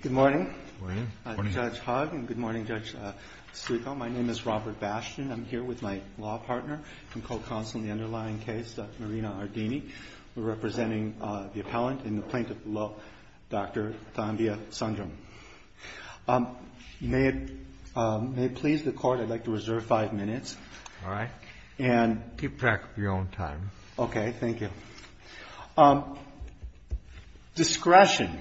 Good morning, Judge Hogg, and good morning, Judge Stucco. My name is Robert Bastian. I'm here with my law partner and co-counsel in the underlying case, Dr. Marina Ardini. We're pleased to have Dr. Sandhya Sundaram. May it please the Court, I'd like to reserve five JUSTICE KENNEDY All right. Keep track of your own time. ROBERT BASTIAN Okay. Thank you. Discretion.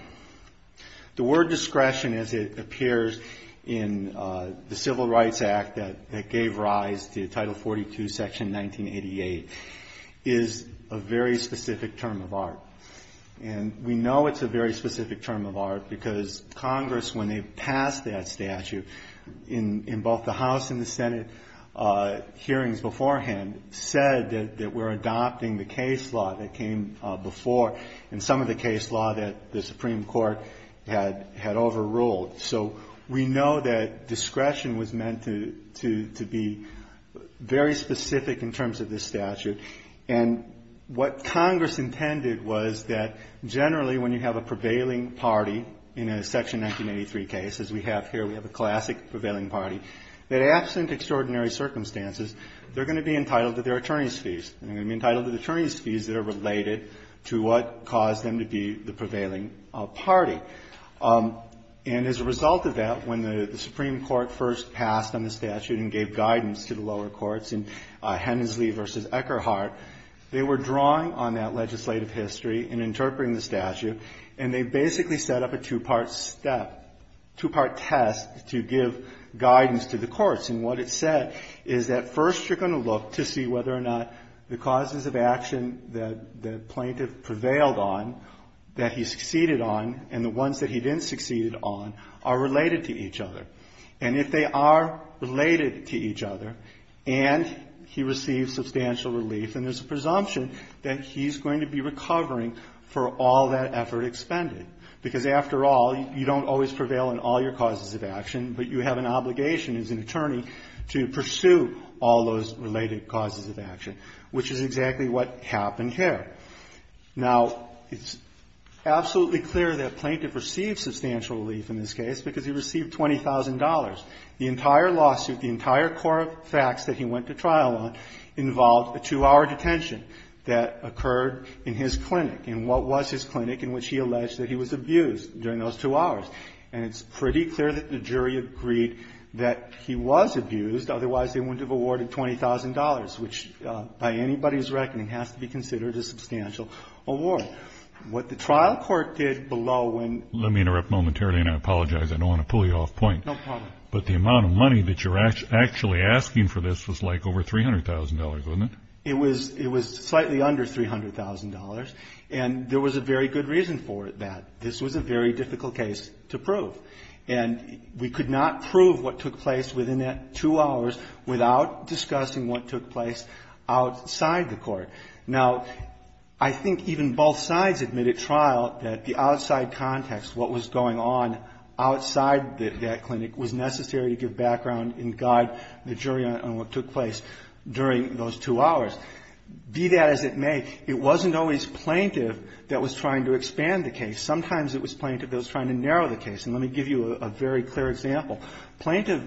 The word discretion, as it appears in the Civil Rights Act that gave rise to the statute, we know it's a very specific term of art because Congress, when they passed that statute in both the House and the Senate hearings beforehand, said that we're adopting the case law that came before and some of the case law that the Supreme Court had overruled. So we know that discretion was meant to be very specific in terms of this statute. And what Congress intended was that generally when you have a prevailing party in a Section 1983 case, as we have here, we have a classic prevailing party, that absent extraordinary circumstances, they're going to be entitled to their attorney's fees. They're going to be entitled to the attorney's fees that are related to what caused them to be the prevailing party. And as a result of that, when the Supreme Court first passed on the statute and gave guidance to the lower courts in Hensley v. Eckerhart, they were drawing on that legislative history and interpreting the statute, and they basically set up a two-part step, two-part test to give guidance to the courts. And what it said is that first you're going to look to see whether or not the causes of action that the plaintiff prevailed on, that he succeeded on, and the ones that he didn't succeed on are related to each other. And if they are related to each other, and he receives substantial relief, then there's a presumption that he's going to be recovering for all that effort expended. Because after all, you don't always prevail on all your causes of action, but you have an obligation as an attorney to pursue all those related causes of action, which is exactly what happened here. Now, it's absolutely clear that a plaintiff received substantial relief in this case because he received $20,000. The entire lawsuit, the entire core of facts that he went to trial on involved a two-hour detention that occurred in his clinic, in what was his clinic, in which he alleged that he was abused during those two hours. And it's pretty clear that the jury agreed that he was abused, otherwise they wouldn't have awarded $20,000, which by anybody's reckoning has to be considered a substantial award. What the trial court did below when the plaintiff received $20,000, and I apologize, I don't want to pull you off point, but the amount of money that you're actually asking for this was like over $300,000, wasn't it? It was slightly under $300,000, and there was a very good reason for that. This was a very difficult case to prove. And we could not prove what took place within that two hours without discussing what took place outside the court. Now, I think even both sides admitted at trial that the outside context, what was going on in the background outside that clinic was necessary to give background and guide the jury on what took place during those two hours. Be that as it may, it wasn't always plaintiff that was trying to expand the case. Sometimes it was plaintiff that was trying to narrow the case. And let me give you a very clear example. Plaintiff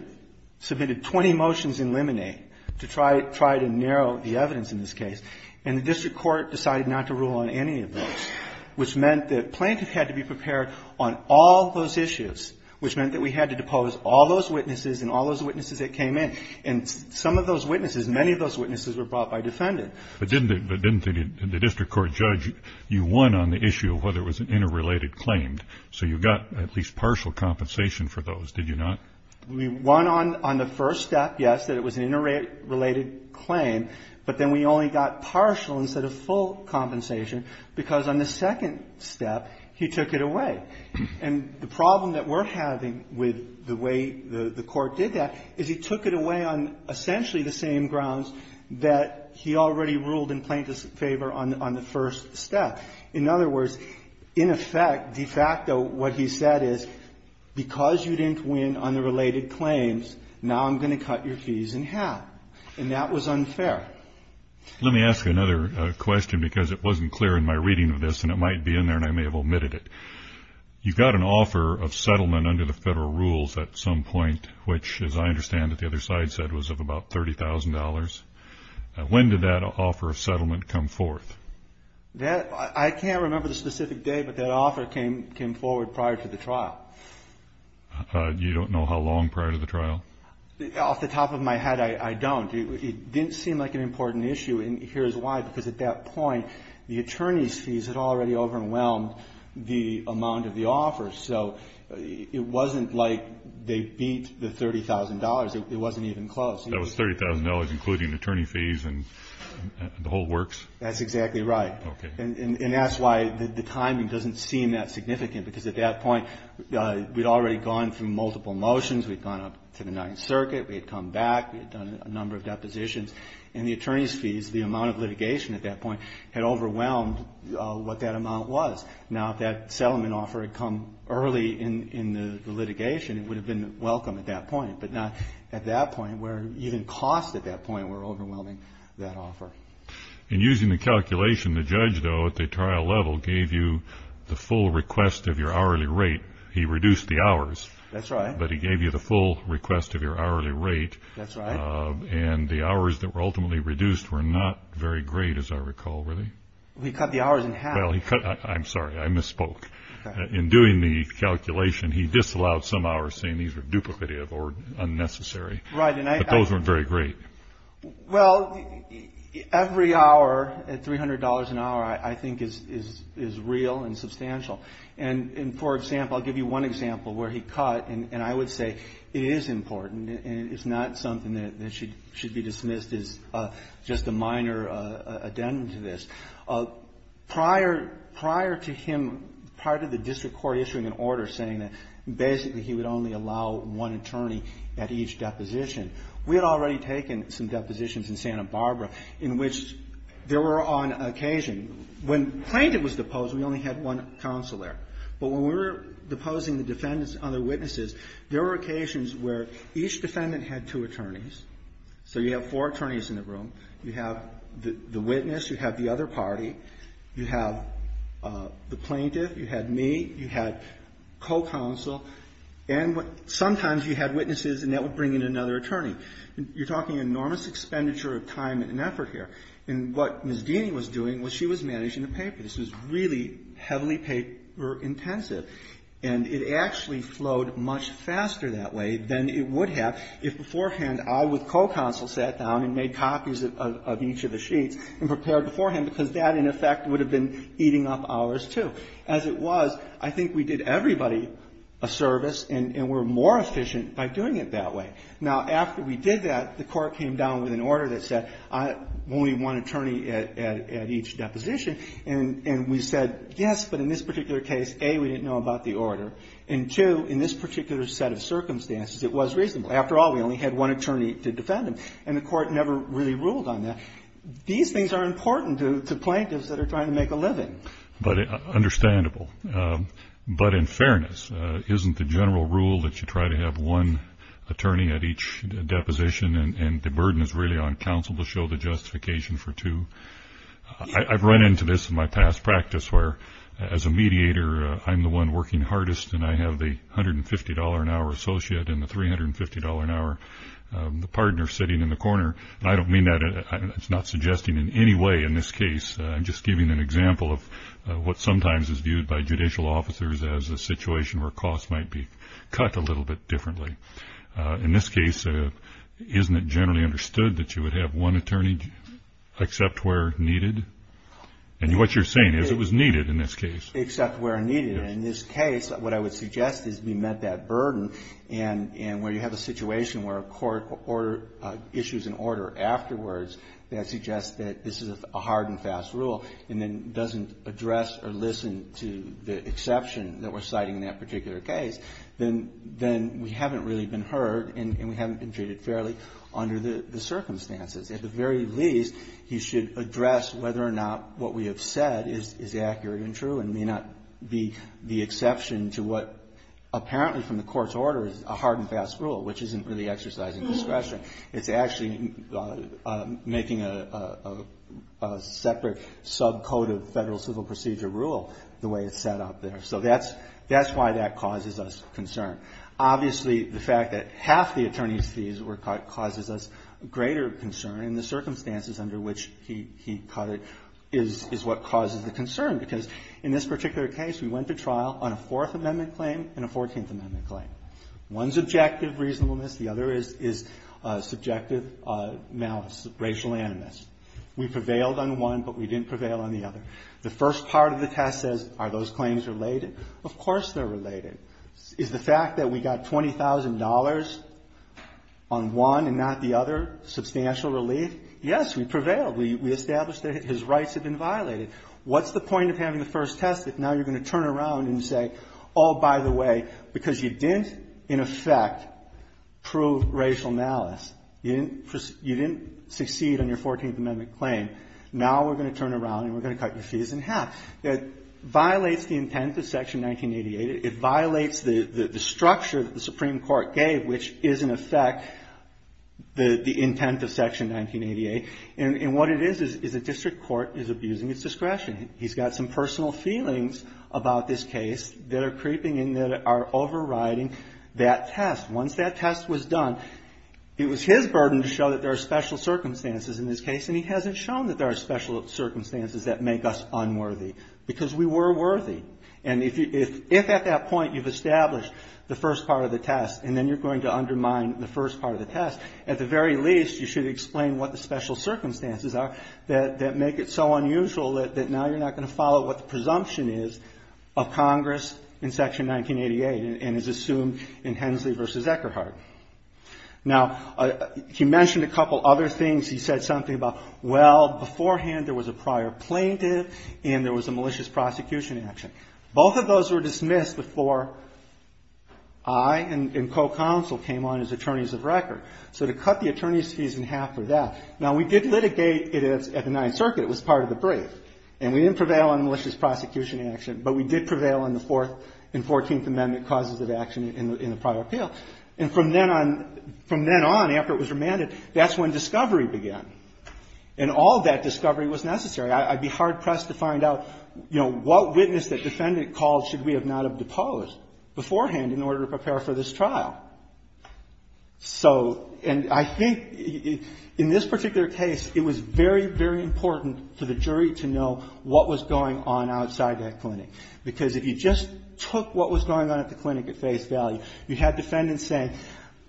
submitted 20 motions in Lemonade to try to narrow the evidence in this case, and the district court decided not to rule on any of those, which meant that plaintiff had to be prepared on all those issues, which meant that we had to depose all those witnesses and all those witnesses that came in. And some of those witnesses, many of those witnesses were brought by defendant. But didn't the district court judge, you won on the issue of whether it was an interrelated claim, so you got at least partial compensation for those, did you not? We won on the first step, yes, that it was an interrelated claim, but then we only got partial instead of full compensation, because on the second step he took it away. And the problem that we're having with the way the court did that is he took it away on essentially the same grounds that he already ruled in plaintiff's favor on the first step. In other words, in effect, de facto, what he said is, because you didn't win on the related claims, now I'm going to cut your fees in half. And that was unfair. Let me ask you another question, because it wasn't clear in my reading of this, and it might be in there, and I may have omitted it. You got an offer of settlement under the federal rules at some point, which, as I understand it, the other side said was of about $30,000. When did that offer of settlement come forth? I can't remember the specific day, but that offer came forward prior to the trial. You don't know how long prior to the trial? Off the top of my head, I don't. It didn't seem like an important issue, and here's why. Because at that point, the attorney's fees had already overwhelmed the amount of the offer, so it wasn't like they beat the $30,000. It wasn't even close. That was $30,000, including attorney fees and the whole works? That's exactly right. And that's why the timing doesn't seem that significant, because at that point, we'd already gone through multiple motions. We'd gone up to the Ninth Circuit. We had come back. We had done a number of depositions, and the attorney's fees, the amount of litigation at that point, had overwhelmed what that amount was. Now, if that settlement offer had come early in the litigation, it would have been welcome at that point, but not at that point, where even costs at that point were overwhelming that offer. And using the calculation, the judge, though, at the trial level, gave you the full request of your hourly rate. He reduced the hours. That's right. But he gave you the full request of your hourly rate. That's right. And the hours that were ultimately reduced were not very great, as I recall. Were they? He cut the hours in half. I'm sorry. I misspoke. In doing the calculation, he disallowed some hours, saying these were duplicative or unnecessary. Right. But those weren't very great. Well, every hour at $300 an hour, I think, is real and substantial. And for example, I'll give you one example where he cut, and I would say it is important, and it's not something that should be dismissed as just a minor addendum to this. Prior to him, prior to the district court issuing an order saying that basically he would only allow one attorney at each deposition, we had already taken some depositions in Santa Barbara in which there were on occasion, when plaintiff was deposed, we only had one counselor. But when we were deposing the defendants and other witnesses, there were occasions where each defendant had two attorneys. So you have four attorneys in the room. You have the witness. You have the other party. You have the plaintiff. You had me. You had co-counsel. And sometimes you had witnesses, and that would bring in another attorney. You're talking enormous expenditure of time and effort here. And what Ms. Deany was doing was she was managing the paper. This was really heavily paper intensive. And it actually flowed much faster that way than it would have if beforehand I, with co-counsel, sat down and made copies of each of the sheets and prepared beforehand, because that, in effect, would have been eating up hours, too. As it was, I think we did everybody a service, and we're more efficient by doing it that way. Now, after we did that, the Court came down with an order that said only one attorney at each deposition, and we said, yes, but in this particular case, A, we didn't know about the order, and, two, in this particular set of circumstances, it was reasonable. After all, we only had one attorney to defend him. And the Court never really ruled on that. These things are important to plaintiffs that are trying to make a living. But understandable. But in fairness, isn't the general rule that you try to have one attorney at each deposition, and the burden is really on counsel to show the justification for two? I've run into this in my past practice where, as a mediator, I'm the one working hardest, and I have the $150-an-hour associate and the $350-an-hour partner sitting in the corner. And I don't mean that. I'm not suggesting in any way in this case. I'm just giving an example of what sometimes is viewed by judicial officers as a situation where costs might be cut a little bit differently. In this case, isn't it generally understood that you would have one attorney except where needed? And what you're saying is it was needed in this case. Except where needed. In this case, what I would suggest is we met that burden. And where you have a situation where a court issues an order afterwards, that suggests that this is a hard and fast rule, and then doesn't address or listen to the exception that we're citing in that particular case, then we haven't really been heard, and we haven't been treated fairly under the circumstances. At the very least, you should address whether or not what we have said is accurate and true and may not be the exception to what apparently from the court's order is a hard and fast rule, which isn't really exercising discretion. It's actually making a separate sub-code of federal civil procedure rule the way it's set up there. So that's why that causes us concern. Obviously, the fact that half the attorney's fees were cut causes us greater concern, and the circumstances under which he cut it is what causes the concern. Because in this particular case, we went to trial on a Fourth Amendment claim and a Fourteenth Amendment claim. One's objective reasonableness. The other is subjective malice, racial animus. We prevailed on one, but we didn't prevail on the other. The first part of the test says, are those claims related? Of course they're related. Is the fact that we got $20,000 on one and not the other substantial relief? Yes, we prevailed. We established that his rights had been violated. What's the point of having the first test if now you're going to turn around and say, oh, by the way, because you didn't, in effect, prove racial malice, you didn't succeed on your Fourteenth Amendment claim, now we're going to turn around and we're going to cut your fees in half? That violates the intent of Section 1988. It violates the structure that the Supreme Court gave, which is, in effect, the intent of Section 1988. And what it is, is the district court is abusing its discretion. He's got some personal feelings about this case that are creeping in that are overriding that test. Once that test was done, it was his burden to show that there are special circumstances in this case, and he hasn't shown that there are special circumstances that make us unworthy, because we were worthy. And if at that point you've established the first part of the test and then you're going to undermine the first part of the test, at the very least, you should explain what the special circumstances are that make it so unusual that now you're not going to follow what the presumption is of Congress in Section 1988 and is assumed in Hensley v. Eckerhardt. Now, he mentioned a couple other things. He said something about, well, beforehand there was a prior plaintiff and there was a malicious prosecution action. Both of those were dismissed before I and co-counsel came on as attorneys of record. So to cut the attorney's fees in half for that. Now, we did litigate it at the Ninth Circuit. It was part of the brief. And we didn't prevail on malicious prosecution action, but we did prevail on the Fourth and Fourteenth Amendment causes of action in the prior appeal. And from then on, from then on, after it was remanded, that's when discovery began. And all that discovery was necessary. I'd be hard-pressed to find out, you know, what witness that defendant called should we not have deposed beforehand in order to prepare for this trial. So, and I think in this particular case, it was very, very important for the jury to know what was going on outside that clinic. Because if you just took what was going on at the clinic at face value, you had defendants saying,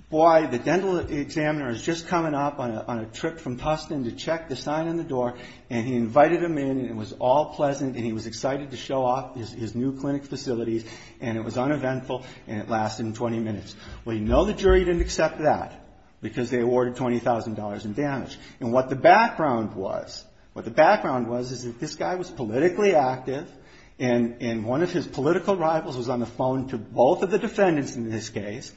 boy, the dental examiner is just coming up on a trip from Tustin to check the sign on the door, and he invited him in, and it was all pleasant, and he was excited to show off his new clinic facilities, and it was uneventful, and it lasted 20 minutes. Well, you know the jury didn't accept that, because they awarded $20,000 in damage. And what the background was, what the background was, is that this guy was politically active, and one of his political rivals was on the phone to both of the defendants in this case,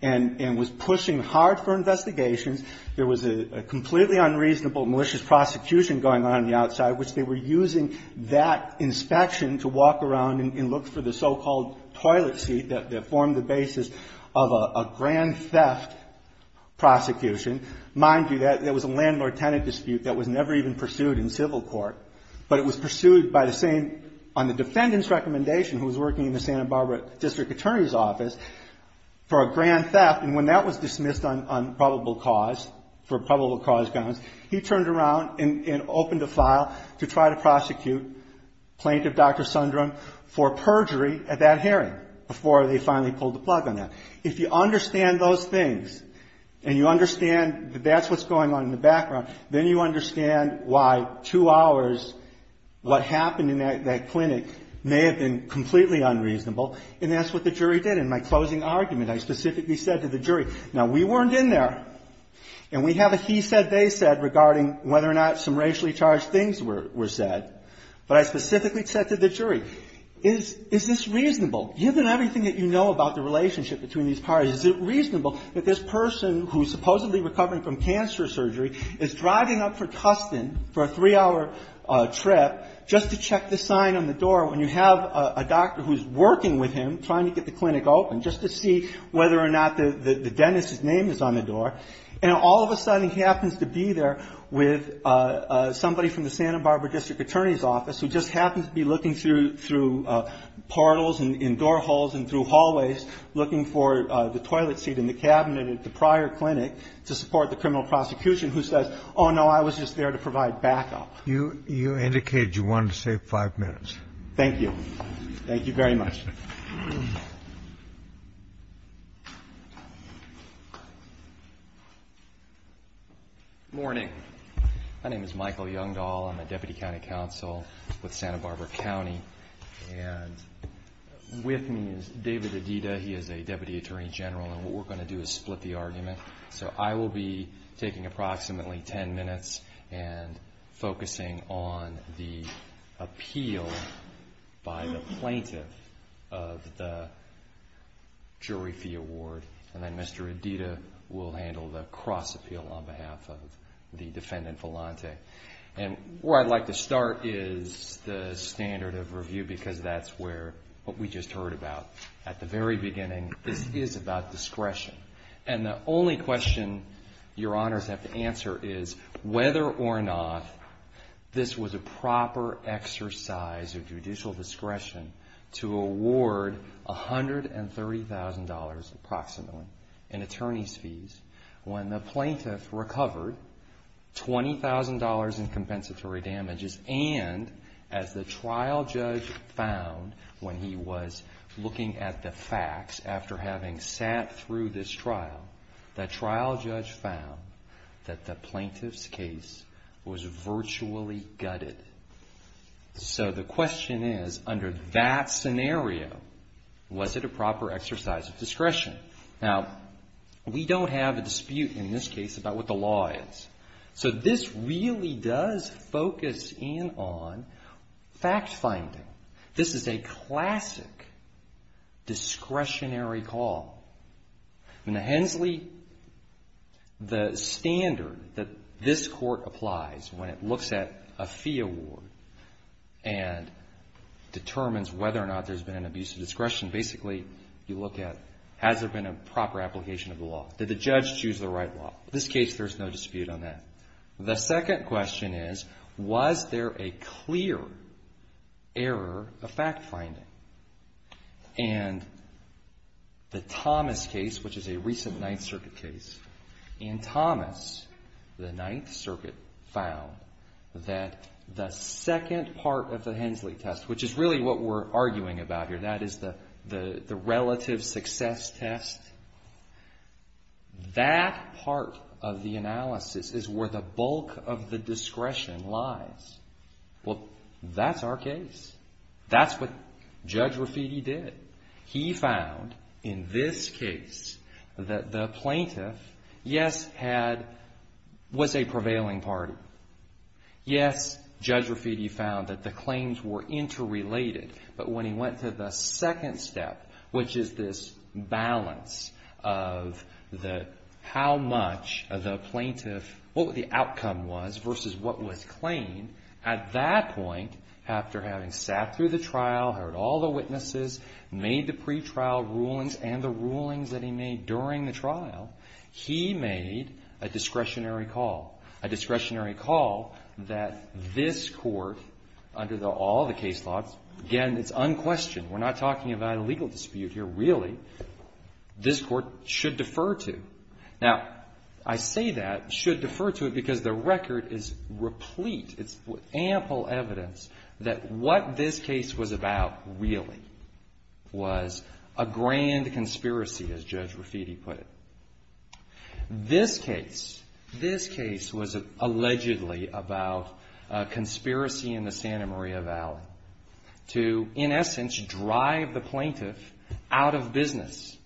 and was pushing hard for investigations. There was a completely unreasonable malicious prosecution going on on the outside, which they were using that inspection to walk around and look for the so-called toilet seat that formed the basis of a grand theft prosecution. Mind you, that was a landlord-tenant dispute that was never even pursued in civil court, but it was pursued by the same, on the defendant's recommendation, who was working in the Santa Barbara District Attorney's Office, for a grand theft, and when that was dismissed on probable cause, for probable cause grounds, he turned around and opened a file to try to prosecute Plaintiff Dr. Sundrum for perjury at that hearing, before they finally pulled the plug on that. If you understand those things, and you understand that that's what's going on in the background, then you understand why two hours, what happened in that clinic, may have been completely unreasonable, and that's what the jury did. In my closing argument, I specifically said to the jury, now we weren't in there, and we have a he said, they said regarding whether or not some racially charged things were said, but I specifically said to the jury, is this reasonable, given everything that you know about the relationship between these parties, is it reasonable that this person, who's supposedly recovering from cancer surgery, is driving up for Custin, for a three-hour trip, just to check the sign on the door, when you have a doctor who's working with him, trying to get the clinic open, just to see whether or not the dentist's name is on the door, and all of a sudden, you have the Santa Barbara District Attorney's Office, who just happens to be looking through portals, and door holes, and through hallways, looking for the toilet seat in the cabinet at the prior clinic, to support the criminal prosecution, who says, oh, no, I was just there to provide backup. You indicated you wanted to save five minutes. Thank you. Thank you very much. Good morning. My name is Michael Youngdahl. I'm a Deputy County Counsel with Santa Barbara County, and with me is David Adida. He is a Deputy Attorney General, and what we're going to do is split the argument, so I will be taking approximately ten minutes and focusing on the plaintiff of the jury fee award, and then Mr. Adida will handle the cross appeal on behalf of the defendant, Volante. Where I'd like to start is the standard of review, because that's what we just heard about at the very beginning. This is about discretion, and the only question your honors have to answer is whether or not this was a proper exercise of judicial discretion to award $130,000 approximately in attorney's fees when the plaintiff recovered $20,000 in compensatory damages, and as the trial judge found when he was looking at the facts after having sat through this trial, the trial judge found that the plaintiff's case was virtually gutted. So the question is, under that scenario, was it a proper exercise of discretion? Now, we don't have a dispute in this case about what the law is, so this really does focus in on fact finding. This is a classic discretionary call. In the Hensley, the standard that this court applies when it looks at a fee award and determines whether or not there's been an abuse of discretion, basically you look at, has there been a proper application of the law? Did the judge choose the right law? In this case, there's no dispute on that. The second question is, was there a clear error of fact finding? And the Thomas case, which is a recent Ninth Circuit case, in Thomas, the Ninth Circuit found that the second part of the Hensley test, which is really what we're arguing about here, that is the relative success test, that part of the analysis is where the bulk of the discretion lies. Well, that's our case. That's what Judge Raffitti did. He found in this case that the plaintiff, yes, was a prevailing party. Yes, Judge Raffitti found that the claims were interrelated, but when he went to the second step, which is this balance of how much the plaintiff, what the outcome was versus what was claimed, at that point, after having sat through the trial, heard all the witnesses, made the pretrial rulings and the rulings that he made during the trial, he made a discretionary call, a discretionary call that this court, under all the case laws, again, it's unquestioned. We're not talking about a legal dispute here, really. This court should defer to. Now, I say that, should defer to, because the record is replete. It's ample evidence that what this case was about, really, was a grand conspiracy, as Judge Raffitti put it. This case, this case was allegedly about a conspiracy in the Santa Maria Valley to, in essence, drive the plaintiff out of business,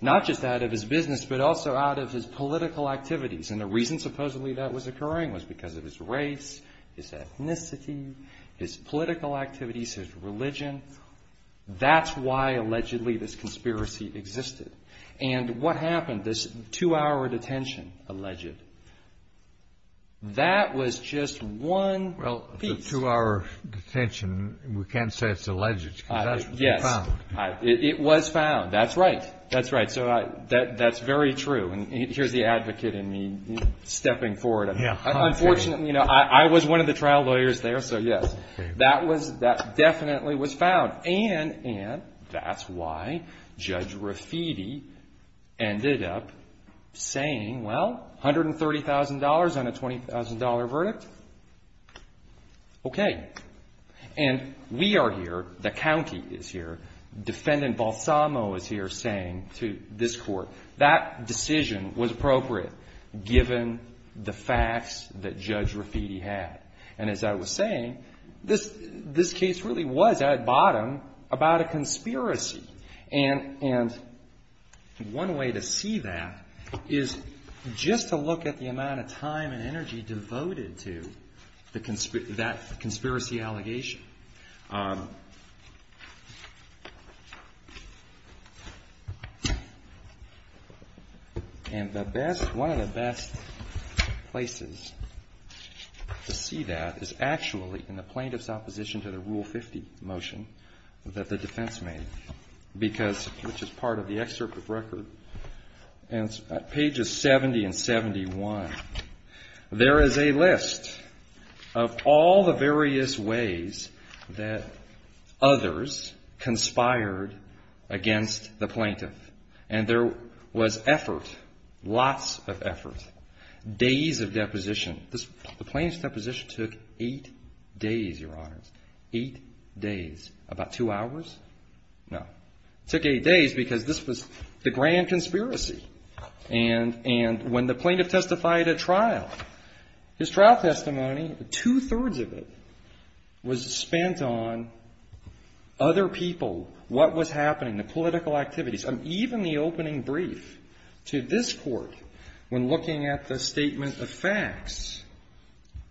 not just out of his business, but also out of his political activities. And the reason, supposedly, that was occurring was because of his race, his ethnicity, his political activities, his religion. That's why, allegedly, this conspiracy existed. And what happened, this two-hour detention, alleged, that was just one piece. Well, the two-hour detention, we can't say it's alleged, because that's found. Yes. It was found. That's right. That's right. So that's very true. And here's the advocate in me stepping forward. Unfortunately, I was one of the trial lawyers there, so yes. That definitely was found. And that's why Judge Raffitti ended up saying, well, $130,000 on a $20,000 verdict? Okay. And we are here, the county is here, Defendant Balsamo is here saying to this court. That decision was appropriate, given the facts that Judge Raffitti had. And as I was saying, this case really was, at bottom, about a conspiracy. And one way to see that is just to look at the amount of time and energy devoted to that conspiracy allegation. And the best, one of the best places to see that is actually in the plaintiff's opposition to the Rule 50 motion that the defense made, because, which is part of the excerpt of the record, and pages 70 and 71, there is a list of all the various ways that others conspired against the plaintiff. And there was effort, lots of effort. Days of deposition. The plaintiff's deposition took eight days, Your Honors. Eight days. About two hours? No. It took eight days because this was the grand conspiracy. And when the plaintiff testified at trial, his trial testimony, two-thirds of it was spent on other people, what was happening, the political activities. Even the opening brief to this court, when looking at the statement of facts,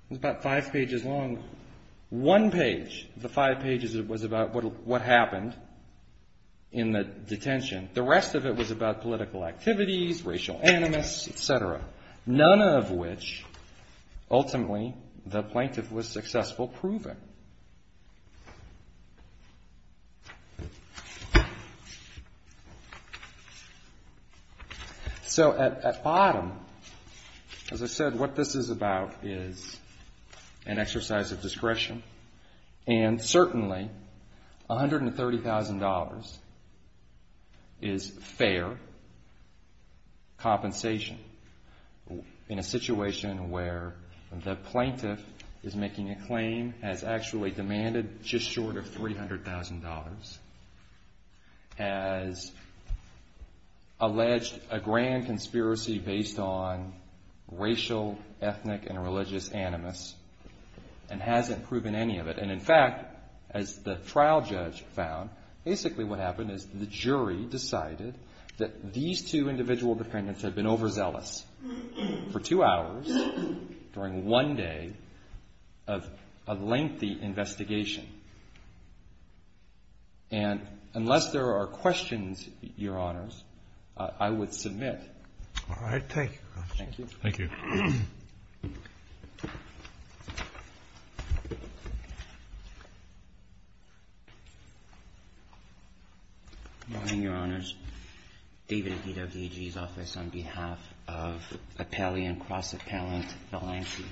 was about five pages long. One page, the five pages, it was about what happened in the detention. The rest of it was about political activities, racial animus, et cetera. None of which, ultimately, the plaintiff was successful proving. So at bottom, as I said, what this is about is an exercise of discretion. And certainly $130,000 is fair compensation in a situation where the plaintiff is making a claim, has actually demanded just short of $300,000, has alleged a grand conspiracy. And in fact, as the trial judge found, basically what happened is the jury decided that these two individual defendants had been overzealous for two hours during one day of a lengthy investigation. And unless there are questions, Your Honors, I would submit. All right. Thank you. Thank you. Good morning, Your Honors. David Adhido, DAG's office, on behalf of Appellee and Cross-Appellant Valencia.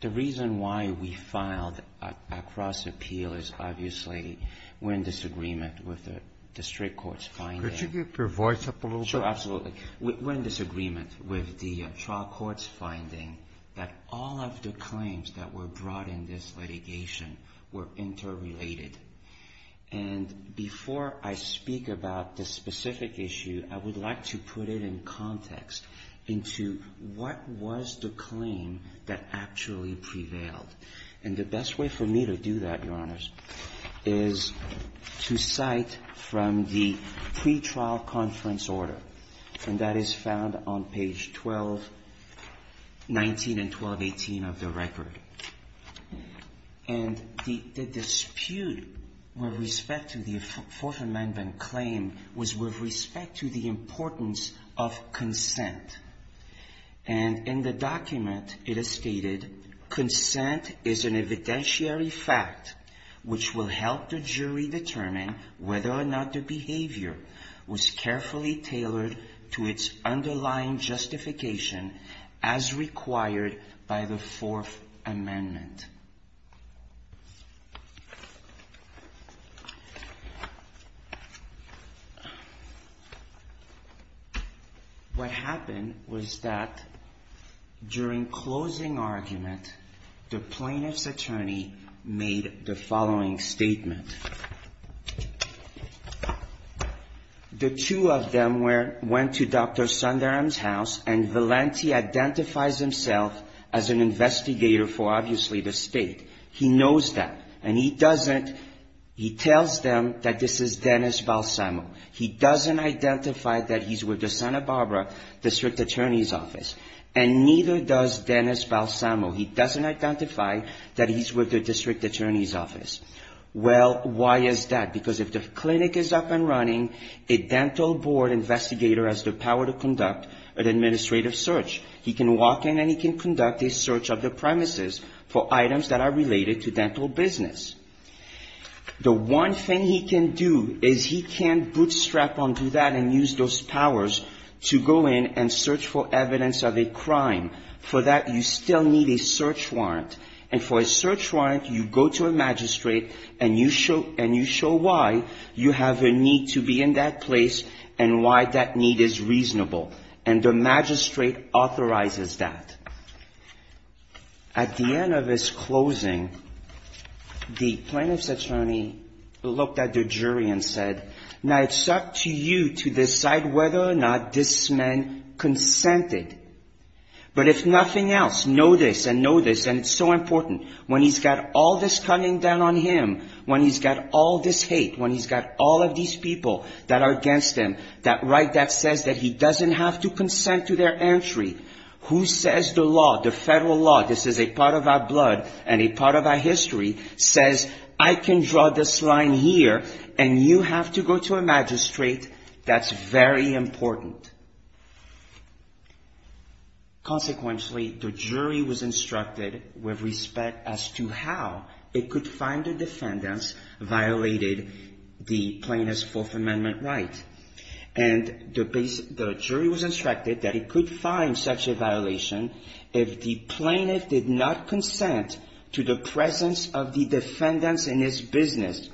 The reason why we filed a cross-appeal is obviously we're in disagreement with the district court's finding. Could you keep your voice up a little bit? Sure, absolutely. We're in disagreement with the trial court's finding that all of the claims that were brought in this litigation were interrelated. And before I speak about this specific issue, I would like to put it in context into what was the claim that actually prevailed. And the best way for me to do that, Your Honors, is to cite from the pre-trial conference order, and that is found on page 1219 and 1218 of the record. And the dispute with respect to the Fourth Amendment claim was with respect to the importance of consent. And in the document it is stated, consent is an evidentiary fact which will help the plaintiff be carefully tailored to its underlying justification as required by the Fourth Amendment. What happened was that during closing argument, the plaintiff's attorney made the following statement. The two of them went to Dr. Sundaram's house, and Valenti identifies himself as an investigator for, obviously, the state. He knows that, and he tells them that this is Dennis Balsamo. He doesn't identify that he's with the Santa Barbara district attorney's office. And neither does Dennis Balsamo. He doesn't identify that he's with the district attorney's office. Well, why is that? Because if the clinic is up and running, a dental board investigator has the power to conduct an administrative search. He can walk in and he can conduct a search of the premises for items that are related to dental business. The one thing he can do is he can bootstrap onto that and use those powers to go in and conduct a search of a crime. For that, you still need a search warrant. And for a search warrant, you go to a magistrate and you show why you have a need to be in that place and why that need is reasonable. And the magistrate authorizes that. At the end of his closing, the plaintiff's attorney looked at the jury and said, now, it's up to you to decide whether or not this man consented. But if nothing else, know this and know this, and it's so important, when he's got all this cunning down on him, when he's got all this hate, when he's got all of these people that are against him, that right that says that he doesn't have to consent to their entry, who says the law, the federal law, this is a part of our blood and a part of our history, says, I can draw this line here and you have to go to a magistrate, that's very important. Consequently, the jury was instructed with respect as to how it could find a defendant violated the plaintiff's Fourth Amendment right. And the jury was instructed that it could find such a violation if the plaintiff did not consent to the presence of the defendant in his business,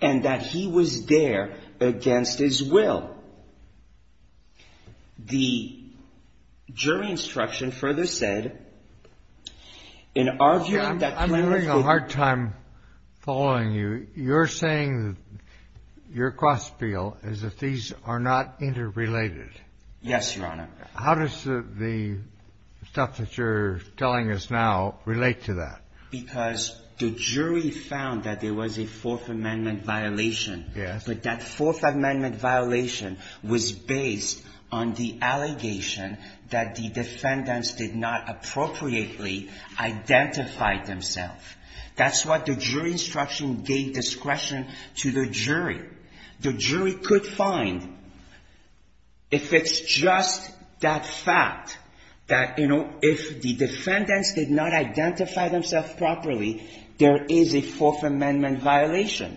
and that he was there against his will. The jury instruction further said, in arguing that the plaintiff did not consent to the plaintiff's Fourth Amendment right. plaintiff's Fourth Amendment right. The jury could find that there was a Fourth Amendment violation, but that Fourth Amendment violation was based on the allegation that the defendants did not appropriately identify themselves. That's what the jury instruction gave discretion to the jury. The jury could find, if it's just that fact, that, you know, if the defendants did not identify themselves, then there was a Fourth Amendment violation.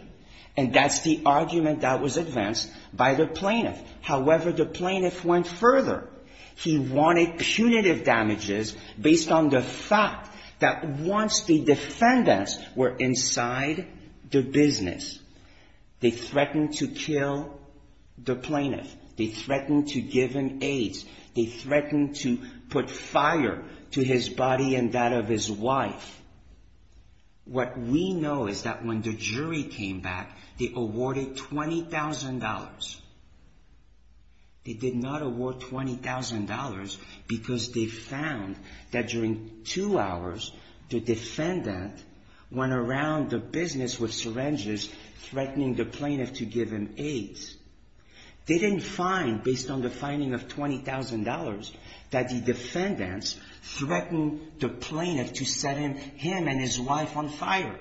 And that's the argument that was advanced by the plaintiff. However, the plaintiff went further. He wanted punitive damages based on the fact that once the defendants were inside the business, they threatened to kill the plaintiff. They threatened to give him AIDS. They threatened to put fire to his body and that when the jury came back, they awarded $20,000. They did not award $20,000 because they found that during two hours, the defendant went around the business with syringes, threatening the plaintiff to give him AIDS. They didn't find, based on the finding of $20,000, that the defendants threatened the plaintiff to set him and his wife on fire.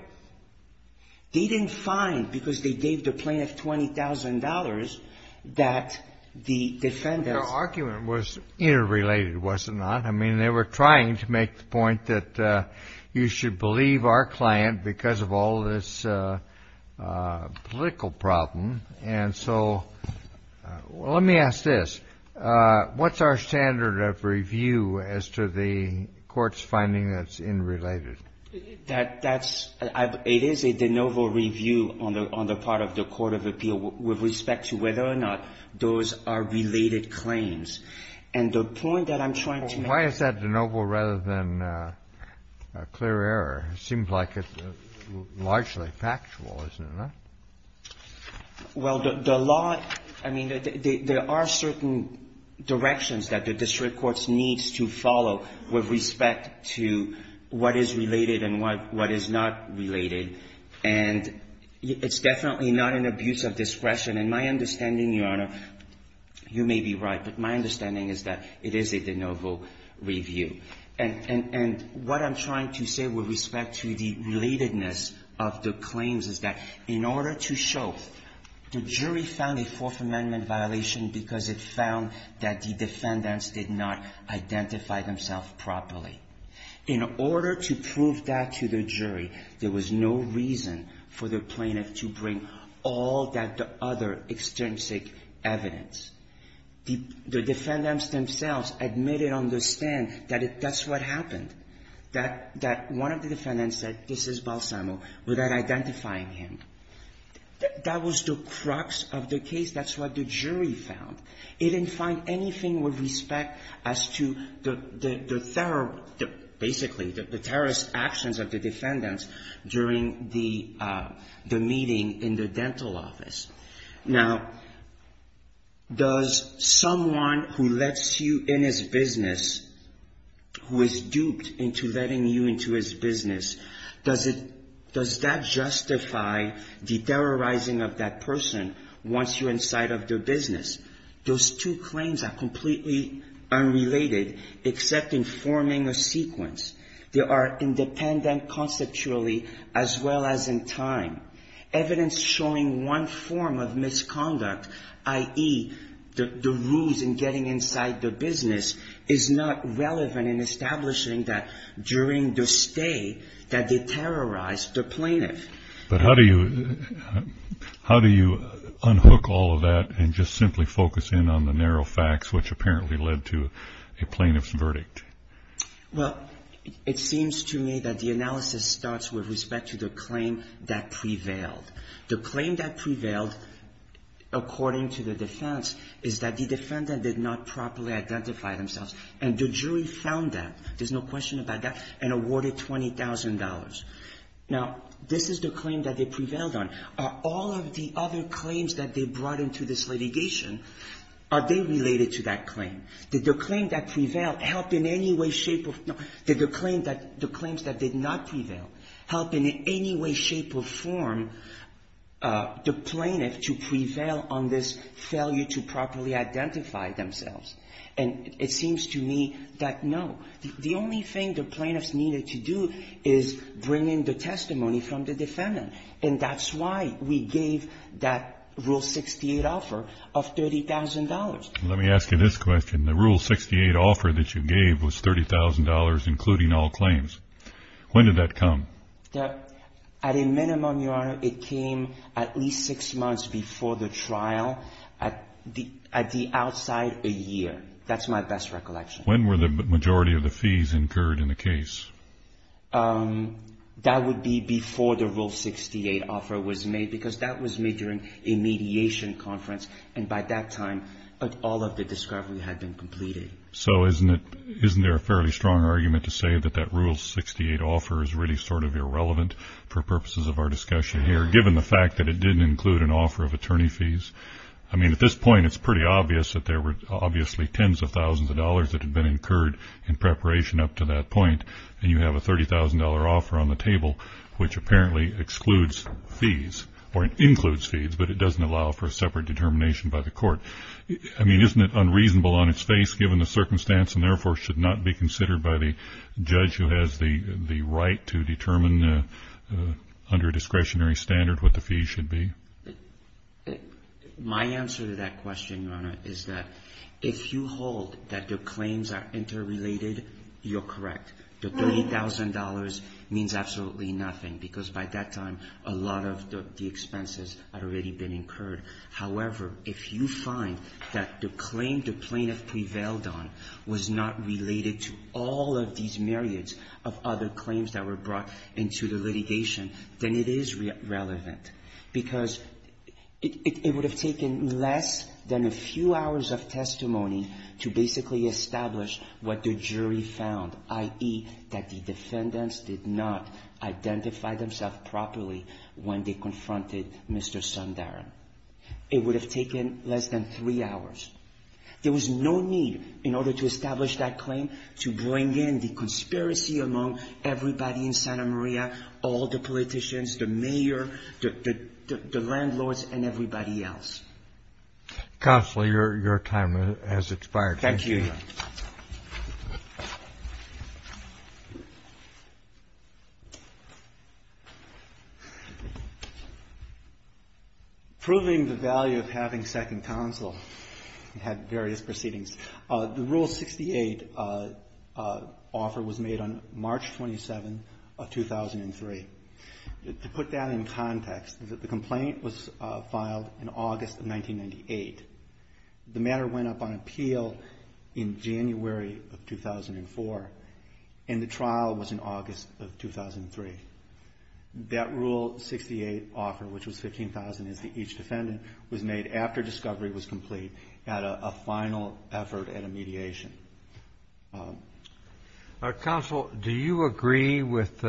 They didn't find, because they gave the plaintiff $20,000, that the defendants ---- Your argument was interrelated, was it not? I mean, they were trying to make the point that you should believe our client because of all this political problem. And so let me ask this. What's our standard of review as to the Court's finding that's interrelated? That's ---- it is a de novo review on the part of the court of appeal with respect to whether or not those are related claims. And the point that I'm trying to make ---- Why is that de novo rather than a clear error? It seems like it's largely factual, isn't it? Well, the law ---- I mean, there are certain directions that the district courts need to follow with respect to what is related and what is not related. And it's definitely not an abuse of discretion. In my understanding, Your Honor, you may be right, but my understanding is that it is a de novo review. And what I'm trying to say with respect to the relatedness of the claims is that in order to show the jury found a Fourth Amendment violation because it found that the defendants did not identify themselves properly, in order to prove that to the jury, there was no reason for the plaintiff to bring all that other extrinsic evidence. The defendants themselves admitted on the stand that that's what happened, that one of the defendants said, this is Balsamo, without identifying him. That was the direction that the district courts needed to follow with respect as to the thorough, basically, the terrorist actions of the defendants during the meeting in the dental office. Now, does someone who lets you in his business, who is duped into letting you into his business, does that justify the terrorizing of that person once you're inside of their business? Those two claims are completely unrelated except in forming a sequence. They are independent conceptually as well as in time. Evidence showing one form of misconduct, i.e., the ruse in getting inside the business, is not relevant in establishing that during the stay that they terrorized the plaintiff. But how do you unhook all of that and just simply focus in on the narrow facts which apparently led to a plaintiff's verdict? Well, it seems to me that the analysis starts with respect to the claim that prevailed. The claim that prevailed, according to the defense, is that the defendant did not properly identify themselves, and the jury found that, there's no question about that, and awarded $20,000. Now, this is the claim that they made. Did the claim that prevailed help in any way, shape or form? No. Did the claims that did not prevail help in any way, shape or form the plaintiff to prevail on this failure to properly identify themselves? And it seems to me that no. The only thing the plaintiffs needed to do is bring in the testimony from the defendant, and that's why we gave that Rule 68 offer of $30,000. Let me ask you this question. The Rule 68 offer that you gave was $30,000, including all claims. When did that come? At a minimum, Your Honor, it came at least six months before the trial, at the outside, a year. That's my best recollection. When were the majority of the fees incurred in the case? That would be before the Rule 68 offer was made, because that was made during a mediation conference, and by that time, all of the discovery had been completed. So isn't there a fairly strong argument to say that that Rule 68 offer is really sort of irrelevant for purposes of our discussion here, given the fact that it didn't include an offer of attorney fees? I mean, at this point, it's pretty clear that there was a $30,000 offer on the table, which apparently excludes fees, or includes fees, but it doesn't allow for a separate determination by the court. I mean, isn't it unreasonable on its face, given the circumstance, and therefore should not be considered by the judge who has the right to determine under a discretionary standard what the fees should be? My answer to that question, Your Honor, is that if you hold that the claims are interrelated, you're correct. The $30,000 means absolutely nothing, because by that time, a lot of the expenses had already been incurred. However, if you find that the claim the plaintiff prevailed on was not related to all of these myriads of other claims that were brought into the litigation, then it is relevant, because it would have taken less than a few hours of testimony to basically establish what the jury found, i.e., that the defendants did not identify themselves properly when they confronted Mr. Sundarren. It would have taken less than three hours. There was no need, in order to establish that claim, to bring in the conspiracy among everybody in Santa Cruz, the politicians, the mayor, the landlords, and everybody else. Counsel, your time has expired. Thank you, Your Honor. Proving the value of having second counsel, it had various proceedings. The Rule 68 offer was made on March 27 of 2003. To put that in context, the complaint was filed in August of 1998. The matter went up on appeal in January of 2004, and the trial was in August of 2003. That Rule 68 offer, which was $15,000, each defendant was made after discovery was complete at a final effort at a mediation. Counsel, do you agree with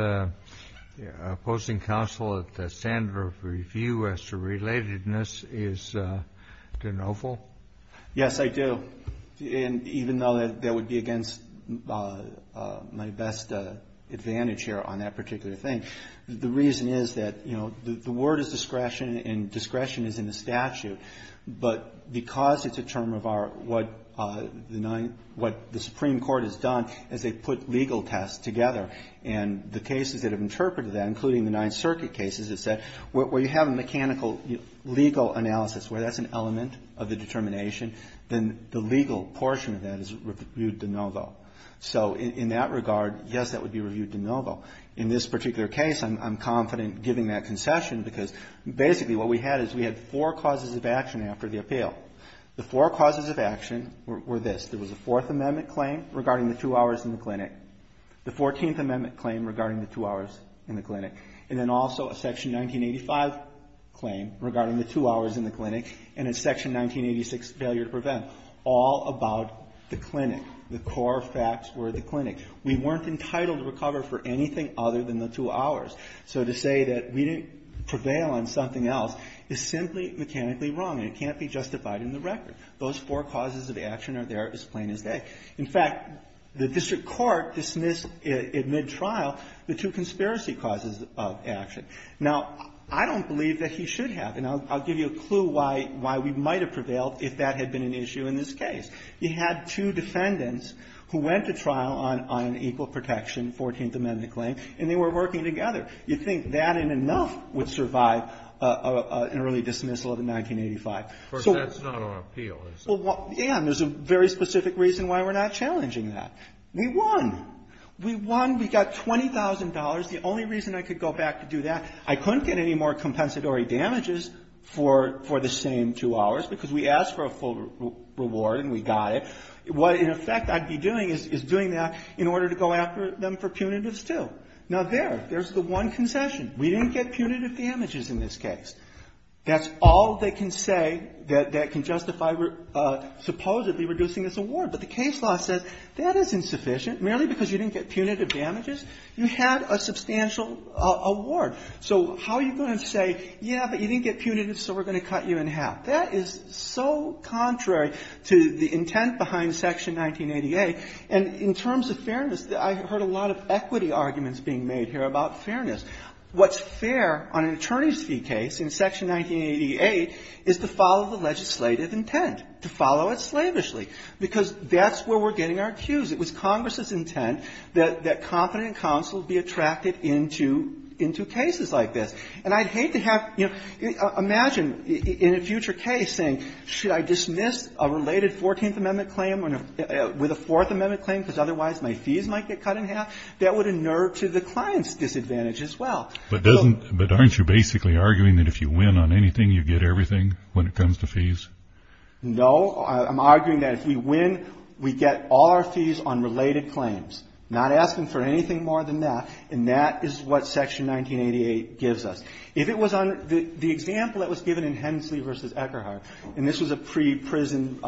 opposing counsel that the standard of review as to relatedness is de novo? Yes, I do. And even though that would be against my best advantage here on that point, discretion is in the statute. But because it's a term of what the Supreme Court has done, is they put legal tests together. And the cases that have interpreted that, including the Ninth Circuit cases that said, where you have a mechanical legal analysis, where that's an element of the determination, then the legal portion of that is reviewed de novo. So in that regard, yes, that would be reviewed de novo. In this particular case, I'm confident giving that concession, because basically what we had is we had four causes of action after the appeal. The four causes of action were this. There was a Fourth Amendment claim regarding the two hours in the clinic, the Fourteenth Amendment claim regarding the two hours in the clinic, and then also a Section 1985 claim regarding the two hours in the clinic, and a Section 1986 failure to prevent, all about the clinic. The core facts were the clinic. We weren't entitled to recover for anything other than the two hours. So to say that we didn't prevail on something else is simply mechanically wrong, and it can't be justified in the record. Those four causes of action are there as plain as day. In fact, the district court dismissed at mid-trial the two conspiracy causes of action. Now, I don't believe that he should have. And I'll give you a clue why we might have prevailed if that had been an issue in this case. You had two defendants who went to trial on an equal protection Fourteenth Amendment claim, and they were working together. You'd think that and enough would survive an early dismissal of the 1985. So we're going to appeal. Yeah. And there's a very specific reason why we're not challenging that. We won. We won. We got $20,000. The only reason I could go back to do that, I couldn't get any more compensatory damages for the same two hours because we asked for a full reward and we got it. What, in effect, I'd be doing is doing that in order to go after them for punitives too. Now, there. There's the one concession. We didn't get punitive damages in this case. That's all they can say that can justify supposedly reducing this award. But the case law says that is insufficient. Merely because you didn't get punitive damages, you had a substantial award. So how are you going to say, yeah, but you didn't get punitive, so we're going to cut you in half? That is so contrary to the intent behind Section 1988. And in terms of fairness, I heard a lot of equity arguments being made here about fairness. What's fair on an attorney's fee case in Section 1988 is to follow the legislative intent, to follow it slavishly, because that's where we're getting our cues. It was Congress's intent that confident counsel be attracted into cases like this. And I'd hate to have, you know, imagine in a future case saying, should I dismiss a related 14th Amendment claim with a 4th Amendment claim because otherwise my fees might get cut in half? That would inert to the client's disadvantage as well. But doesn't, but aren't you basically arguing that if you win on anything, you get everything when it comes to fees? No. I'm arguing that if we win, we get all our fees on related claims, not asking for anything more than that. And that is what Section 1988 gives us. If it was under, the example that was given in Hensley v. Eckerhart, and this was a pre-prison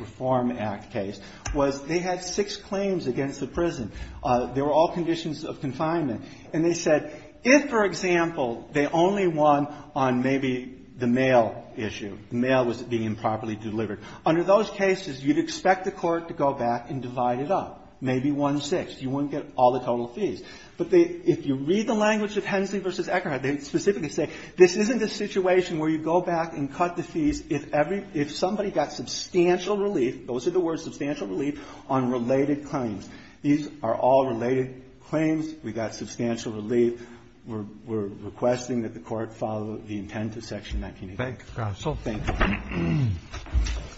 Reform Act case, was they had six claims against the prison. They were all conditions of confinement. And they said if, for example, they only won on maybe the mail issue, the mail was being improperly delivered. Under those cases, you'd expect the court to go back and divide it up, maybe one-sixth. You wouldn't get all the total fees. But they, if you read the language of Hensley v. Eckerhart, they specifically say this isn't a situation where you go back and cut the fees if every, if somebody got substantial relief, those are the words, substantial relief, on related claims. These are all related claims. We got substantial relief. We're requesting that the Court follow the intent of Section 1988. Roberts. Thank you, Your Honor. Thank you, Your Honor.